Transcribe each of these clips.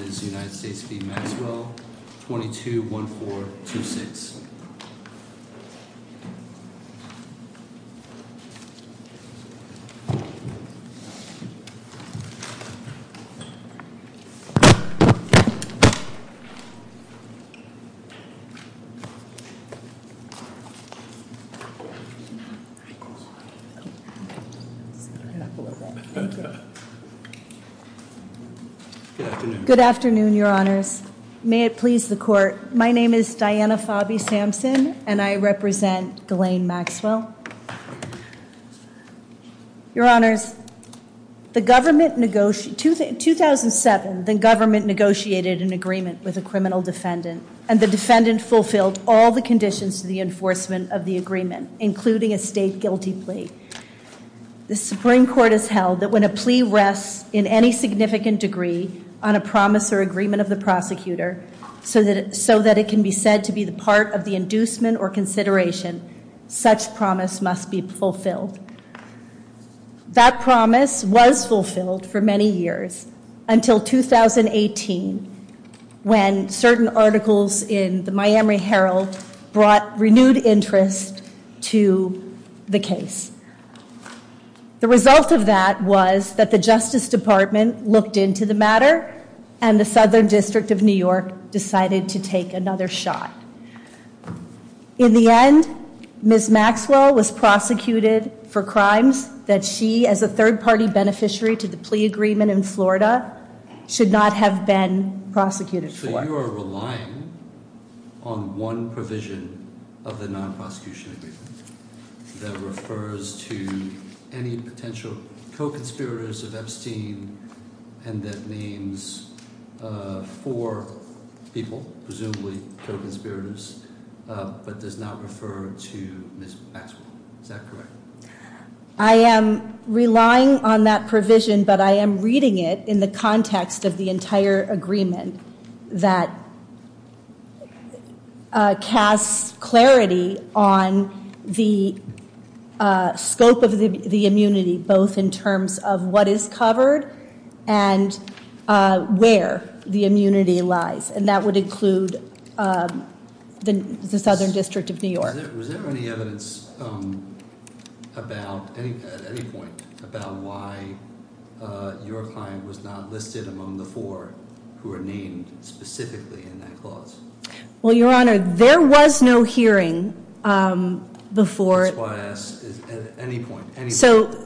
22-1426. Good afternoon, your honors. May it please the court. My name is Diana Fobby Sampson, and I represent Ghislaine Maxwell. Your honors, 2007, the government negotiated an agreement with a criminal defendant, and the defendant fulfilled all the conditions to the enforcement of the agreement, including a state guilty plea. The Supreme Court has held that when a plea rests in any significant degree on a promise or agreement of the prosecutor, so that it can be said to be the part of the inducement or consideration, such promise must be fulfilled. That promise was fulfilled for many years, until 2018, when certain articles in the Miami Herald brought renewed interest to the case. The result of that was that the Justice Department looked into the matter, and the Southern District of New York decided to take another shot. In the end, Ms. Maxwell was prosecuted for crimes that she, as a third-party beneficiary to the plea agreement in Florida, should not have been prosecuted for. So you are relying on one provision of the non-prosecution agreement that refers to any potential co-conspirators of Epstein, and that names four people, presumably co-conspirators, but does not refer to Ms. Maxwell. Is that correct? I am relying on that provision, but I am reading it in the context of the entire agreement that casts clarity on the scope of the immunity, both in terms of what is covered and where the immunity lies. And that would include the Southern District of New York. Was there any evidence at any point about why your client was not listed among the four who were named specifically in that clause? Well, Your Honor, there was no hearing before... That's why I ask, at any point, any moment...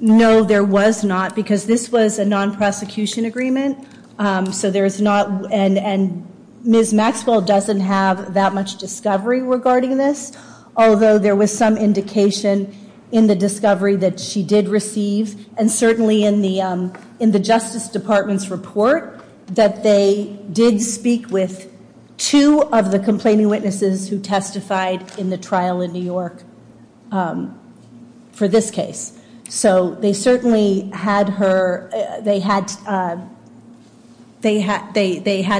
No, there was not, because this was a non-prosecution agreement, and Ms. Maxwell doesn't have that much discovery regarding this, although there was some indication in the discovery that she did receive, and certainly in the Justice Department's report, that they did speak with two of the complaining witnesses who testified in the trial in New York for this case. So they certainly had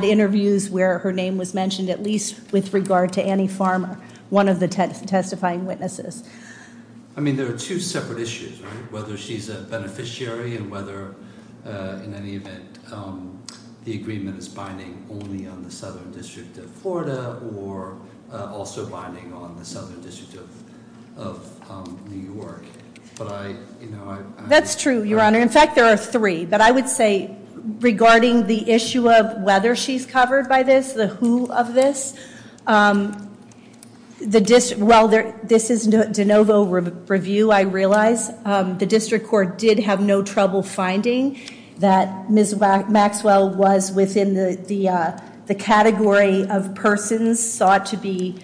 interviews where her name was mentioned, at least with regard to Annie Farmer, one of the testifying witnesses. I mean, there are two separate issues, right? Whether she's a beneficiary and whether, in any event, the agreement is binding only on the Southern District of Florida or also binding on the Southern District of New York. That's true, Your Honor. In fact, there are three. But I would say, regarding the issue of whether she's covered by this, the who of this, while this is de novo review, I realize, the District Court did have no trouble finding that Ms. Maxwell was within the category of persons sought to be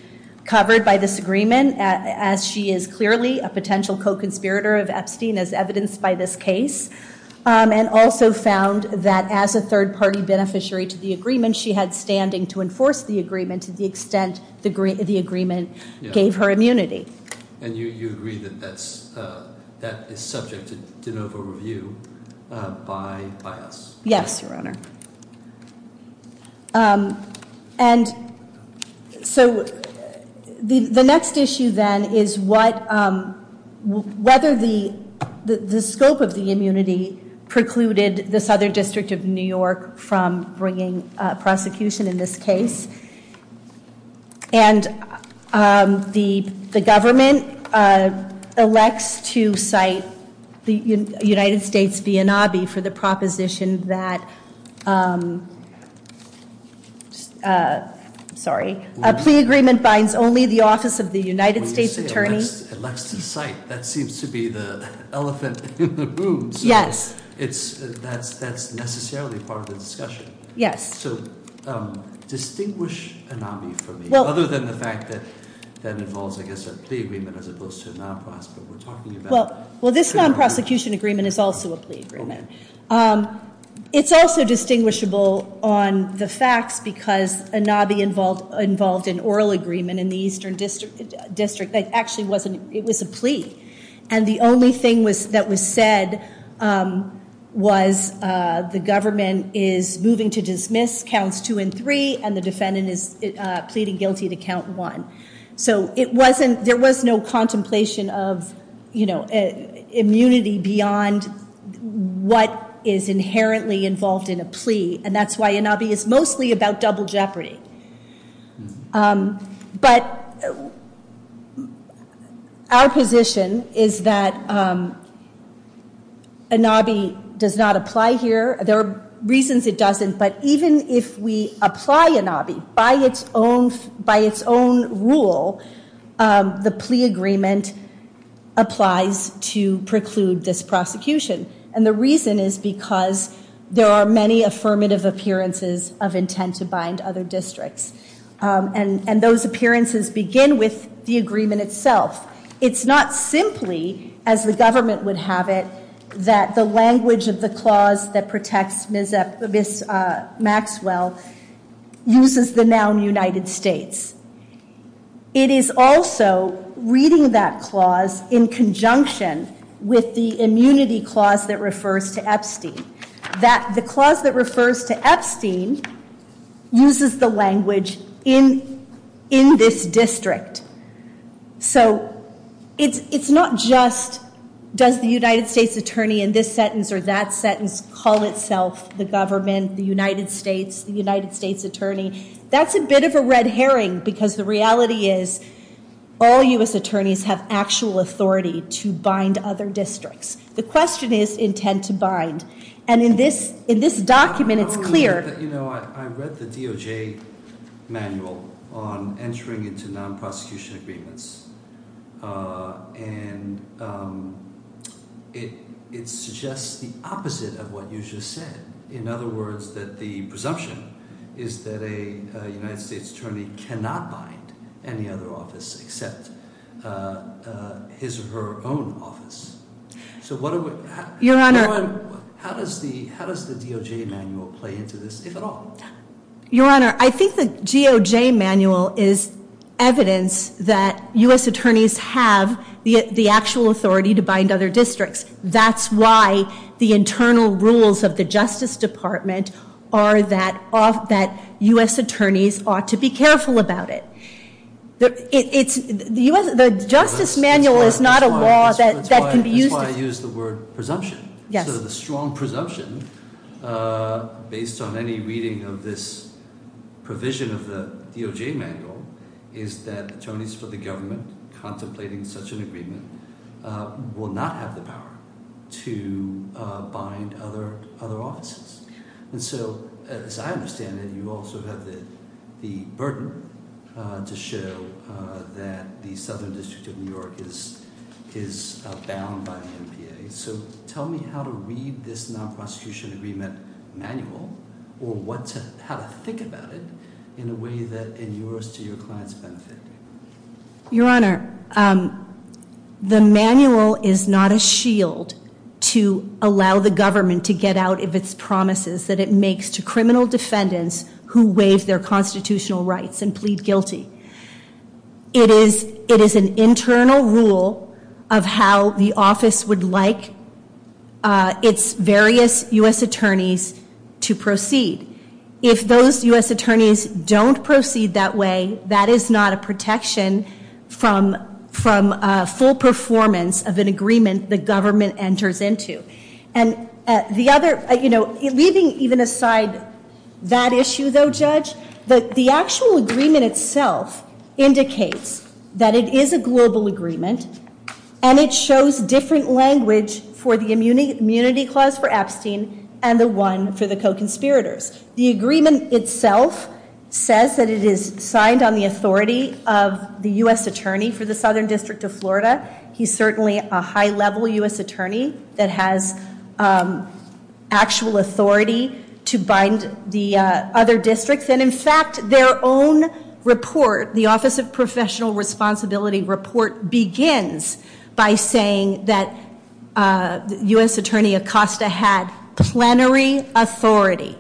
covered by this agreement, as she is clearly a potential co-conspirator of Epstein, as evidenced by this case, and also found that as a third-party beneficiary to the agreement, she had standing to enforce the agreement to the extent the agreement gave her immunity. And you agree that that is subject to de novo review by us? Yes, Your Honor. And so the next issue, then, is whether the scope of the immunity precluded the Southern District of New York from bringing prosecution in this case. And the government elects to cite the United States, for the proposition that a plea agreement binds only the office of the United States Attorney. When you say elects to cite, that seems to be the elephant in the room. Yes. So that's necessarily part of the discussion. Yes. So distinguish an obby for me, other than the fact that that involves, I guess, a plea agreement as opposed to a non-prosecution. Well, this non-prosecution agreement is also a plea agreement. It's also distinguishable on the facts, because an obby involved an oral agreement in the Eastern District that actually was a plea. And the only thing that was said was the government is moving to dismiss counts two and three, and the defendant is pleading guilty to count one. So there was no contemplation of immunity beyond what is inherently involved in a plea, and that's why an obby is mostly about double jeopardy. But our position is that an obby does not apply here. There are reasons it doesn't, but even if we apply an obby by its own rule, the plea agreement applies to preclude this prosecution. And the reason is because there are many affirmative appearances of intent to bind other districts, and those appearances begin with the agreement itself. It's not simply, as the government would have it, that the language of the clause that protects Ms. Maxwell uses the noun United States. It is also reading that clause in conjunction with the immunity clause that refers to Epstein, that the clause that refers to Epstein uses the language in this district. So it's not just does the United States attorney in this sentence or that sentence call itself the government, the United States, the United States attorney. That's a bit of a red herring because the reality is all U.S. attorneys have actual authority to bind other districts. The question is intent to bind. And in this document, it's clear. You know, I read the DOJ manual on entering into non-prosecution agreements, and it suggests the opposite of what you just said. In other words, that the presumption is that a United States attorney cannot bind any other office except his or her own office. Your Honor. How does the DOJ manual play into this, if at all? Your Honor, I think the DOJ manual is evidence that U.S. attorneys have the actual authority to bind other districts. That's why the internal rules of the Justice Department are that U.S. attorneys ought to be careful about it. The Justice manual is not a law that can be used. That's why I used the word presumption. Yes. So the strong presumption, based on any reading of this provision of the DOJ manual, is that attorneys for the government contemplating such an agreement will not have the power to bind other offices. And so, as I understand it, you also have the burden to show that the Southern District of New York is bound by the NPA. So tell me how to read this non-prosecution agreement manual or how to think about it in a way that, in yours, to your client's benefit. Your Honor, the manual is not a shield to allow the government to get out of its promises that it makes to criminal defendants who waive their constitutional rights and plead guilty. It is an internal rule of how the office would like its various U.S. attorneys to proceed. If those U.S. attorneys don't proceed that way, that is not a protection from full performance of an agreement the government enters into. And the other, you know, leaving even aside that issue, though, Judge, the actual agreement itself indicates that it is a global agreement and it shows different language for the immunity clause for Epstein and the one for the co-conspirators. The agreement itself says that it is signed on the authority of the U.S. attorney for the Southern District of Florida. He's certainly a high-level U.S. attorney that has actual authority to bind the other districts. And, in fact, their own report, the Office of Professional Responsibility report, begins by saying that U.S. attorney Acosta had plenary authority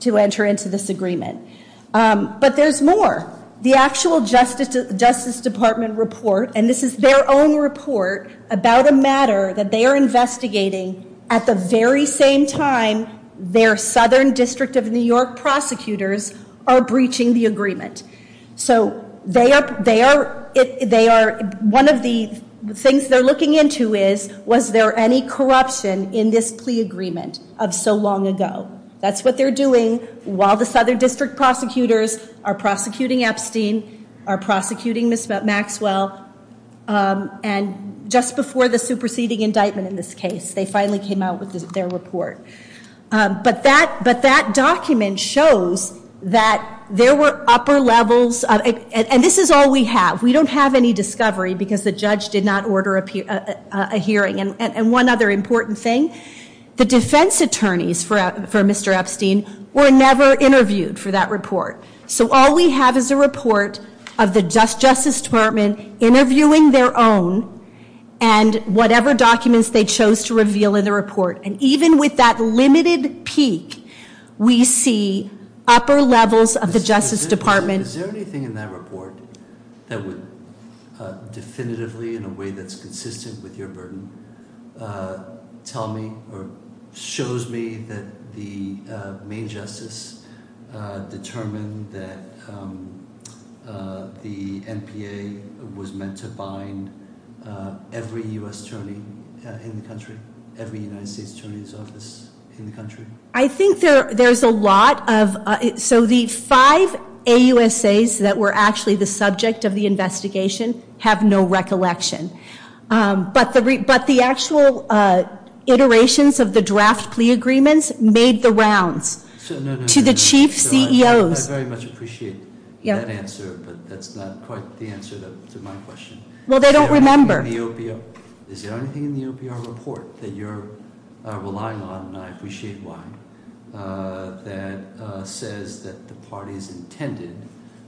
to enter into this agreement. But there's more. The actual Justice Department report, and this is their own report, about a matter that they are investigating at the very same time their Southern District of New York prosecutors are breaching the agreement. So they are, one of the things they're looking into is, was there any corruption in this plea agreement of so long ago? That's what they're doing while the Southern District prosecutors are prosecuting Epstein, are prosecuting Ms. Maxwell. And just before the superseding indictment in this case, they finally came out with their report. But that document shows that there were upper levels, and this is all we have. We don't have any discovery because the judge did not order a hearing. And one other important thing, the defense attorneys for Mr. Epstein were never interviewed for that report. So all we have is a report of the Justice Department interviewing their own and whatever documents they chose to reveal in the report. And even with that limited peak, we see upper levels of the Justice Department- that the NPA was meant to bind every U.S. attorney in the country, every United States attorney's office in the country? I think there's a lot of- so the five AUSAs that were actually the subject of the investigation have no recollection. But the actual iterations of the draft plea agreements made the rounds to the chief CEOs. I very much appreciate that answer, but that's not quite the answer to my question. Well, they don't remember. Is there anything in the OPR report that you're relying on, and I appreciate why, that says that the party's intended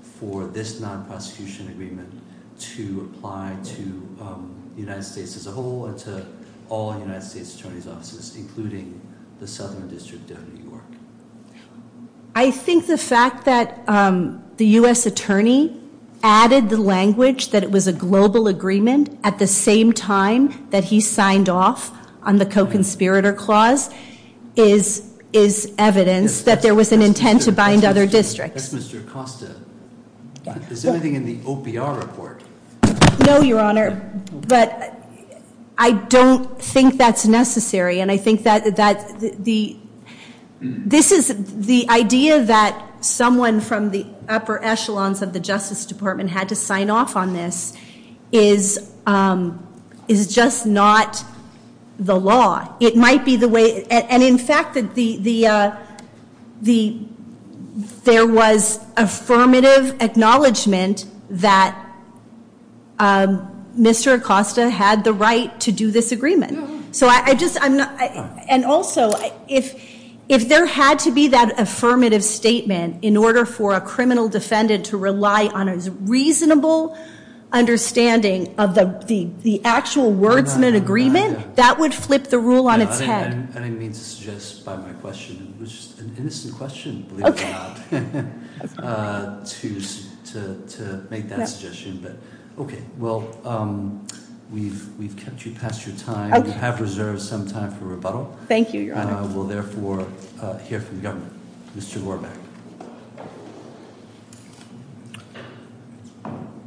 for this non-prosecution agreement to apply to the United States as a whole, and to all United States attorney's offices, including the Southern District of New York? I think the fact that the U.S. attorney added the language that it was a global agreement at the same time that he signed off on the co-conspirator clause is evidence that there was an intent to bind other districts. That's Mr. Acosta. Is there anything in the OPR report? No, Your Honor, but I don't think that's necessary. And I think that the idea that someone from the upper echelons of the Justice Department had to sign off on this is just not the law. It might be the way, and in fact, there was affirmative acknowledgement that Mr. Acosta had the right to do this agreement. And also, if there had to be that affirmative statement in order for a criminal defendant to rely on a reasonable understanding of the actual words in an agreement, that would flip the rule on its head. I didn't mean to suggest by my question. It was just an innocent question, believe it or not, to make that suggestion. But okay, well, we've kept you past your time. We have reserved some time for rebuttal. Thank you, Your Honor. We'll therefore hear from the government. Mr. Lohrbeck.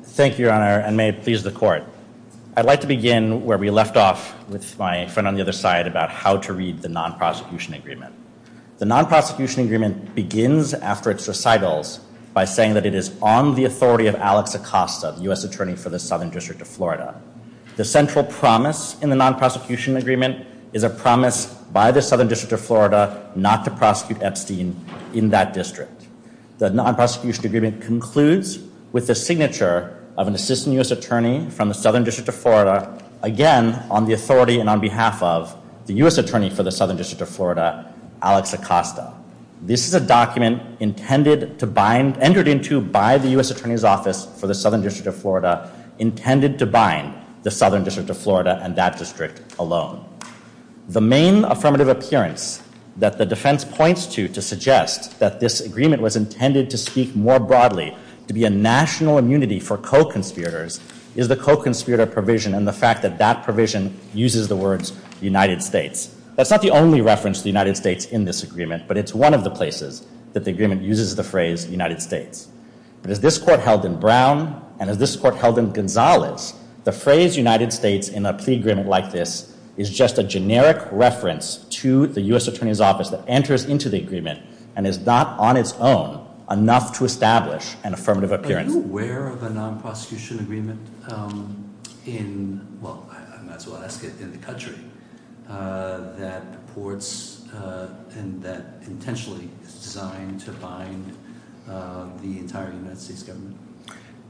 Thank you, Your Honor, and may it please the court. I'd like to begin where we left off with my friend on the other side about how to read the non-prosecution agreement. The non-prosecution agreement begins after its recitals by saying that it is on the authority of Alex Acosta, the U.S. Attorney for the Southern District of Florida. The central promise in the non-prosecution agreement is a promise by the Southern District of Florida not to prosecute Epstein in that district. The non-prosecution agreement concludes with the signature of an assistant U.S. attorney from the Southern District of Florida, again, on the authority and on behalf of the U.S. Attorney for the Southern District of Florida, Alex Acosta. This is a document entered into by the U.S. Attorney's Office for the Southern District of Florida intended to bind the Southern District of Florida and that district alone. The main affirmative appearance that the defense points to to suggest that this agreement was intended to speak more broadly to be a national immunity for co-conspirators is the co-conspirator provision and the fact that that provision uses the words United States. That's not the only reference to the United States in this agreement, but it's one of the places that the agreement uses the phrase United States. But as this court held in Brown and as this court held in Gonzales, the phrase United States in a plea agreement like this is just a generic reference to the U.S. Attorney's Office that enters into the agreement and is not on its own enough to establish an affirmative appearance. Are you aware of a non-prosecution agreement in, well, I might as well ask it, in the country that purports and that intentionally is designed to bind the entire United States government?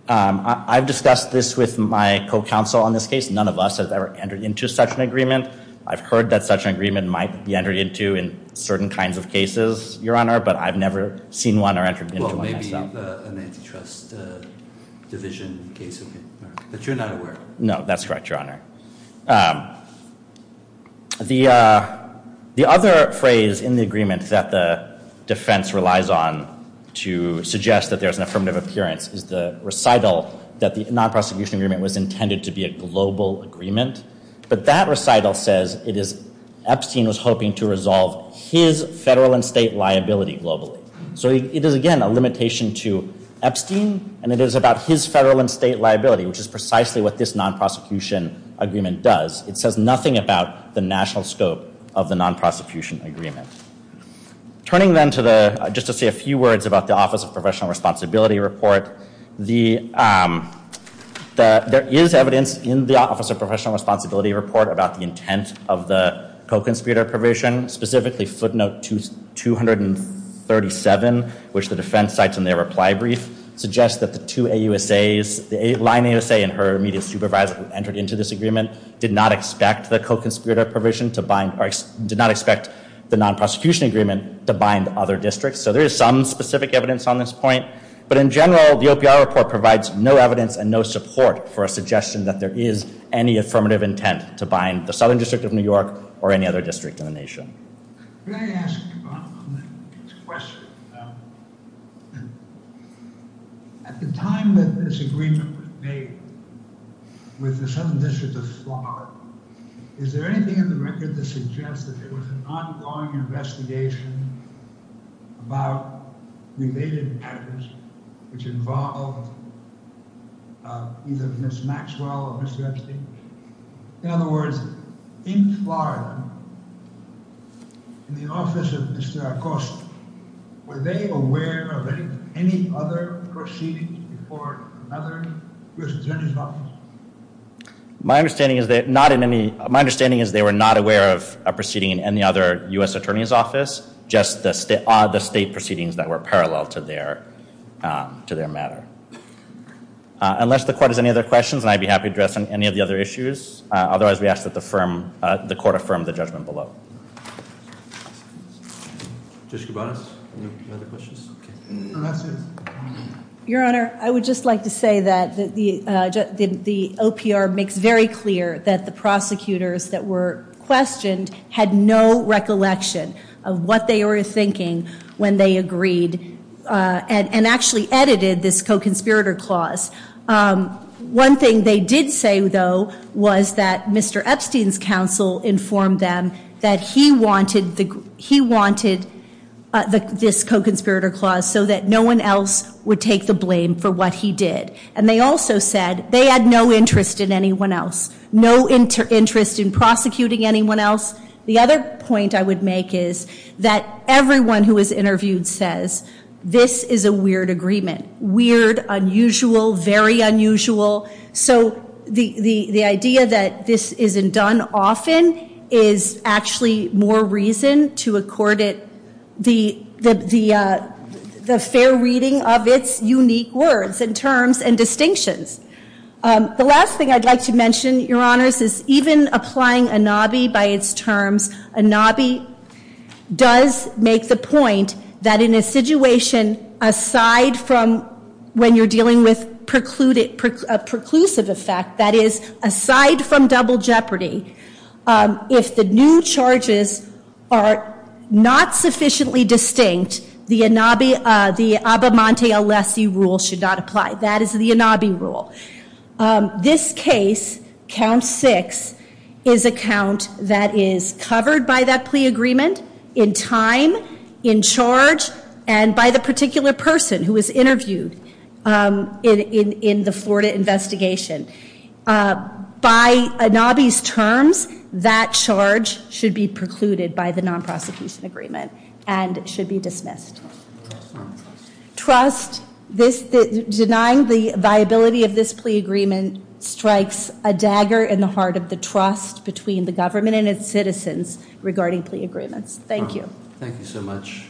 I've discussed this with my co-counsel on this case. None of us have ever entered into such an agreement. I've heard that such an agreement might be entered into in certain kinds of cases, Your Honor, but I've never seen one or entered into one myself. It might be an antitrust division case. But you're not aware? No, that's correct, Your Honor. The other phrase in the agreement that the defense relies on to suggest that there's an affirmative appearance is the recital that the non-prosecution agreement was intended to be a global agreement, but that recital says it is Epstein was hoping to resolve his federal and state liability globally. So it is, again, a limitation to Epstein, and it is about his federal and state liability, which is precisely what this non-prosecution agreement does. It says nothing about the national scope of the non-prosecution agreement. Turning then to the, just to say a few words about the Office of Professional Responsibility report, there is evidence in the Office of Professional Responsibility report about the intent of the co-conspirator provision, specifically footnote 237, which the defense cites in their reply brief, suggests that the two AUSAs, the line AUSA and her immediate supervisor who entered into this agreement, did not expect the co-conspirator provision to bind, or did not expect the non-prosecution agreement to bind other districts. So there is some specific evidence on this point, but in general, the OPR report provides no evidence and no support for a suggestion that there is any affirmative intent to bind the Southern District of New York or any other district in the nation. Can I ask a question? At the time that this agreement was made with the Southern District of Florida, is there anything in the record that suggests that there was an ongoing investigation about related actors, which involved either Ms. Maxwell or Mr. Epstein? In other words, in Florida, in the office of Mr. Acosta, were they aware of any other proceedings before another U.S. Attorney's Office? My understanding is they were not aware of a proceeding in any other U.S. Attorney's Office, just the state proceedings that were parallel to their matter. Unless the court has any other questions, I'd be happy to address any of the other issues. Otherwise, we ask that the court affirm the judgment below. Judge Kabanos, any other questions? Your Honor, I would just like to say that the OPR makes very clear that the prosecutors that were questioned had no recollection of what they were thinking when they agreed and actually edited this co-conspirator clause. One thing they did say, though, was that Mr. Epstein's counsel informed them that he wanted this co-conspirator clause so that no one else would take the blame for what he did. And they also said they had no interest in anyone else, no interest in prosecuting anyone else. The other point I would make is that everyone who was interviewed says, this is a weird agreement, weird, unusual, very unusual. So the idea that this isn't done often is actually more reason to accord it the fair reading of its unique words and terms and distinctions. The last thing I'd like to mention, Your Honors, is even applying ANABI by its terms, ANABI does make the point that in a situation aside from when you're dealing with a preclusive effect, that is, aside from double jeopardy, if the new charges are not sufficiently distinct, the Abamante-Alessi rule should not apply. That is the ANABI rule. This case, Count 6, is a count that is covered by that plea agreement in time, in charge, and by the particular person who was interviewed in the Florida investigation. By ANABI's terms, that charge should be precluded by the non-prosecution agreement and should be dismissed. Denying the viability of this plea agreement strikes a dagger in the heart of the trust between the government and its citizens regarding plea agreements. Thank you. Thank you so much.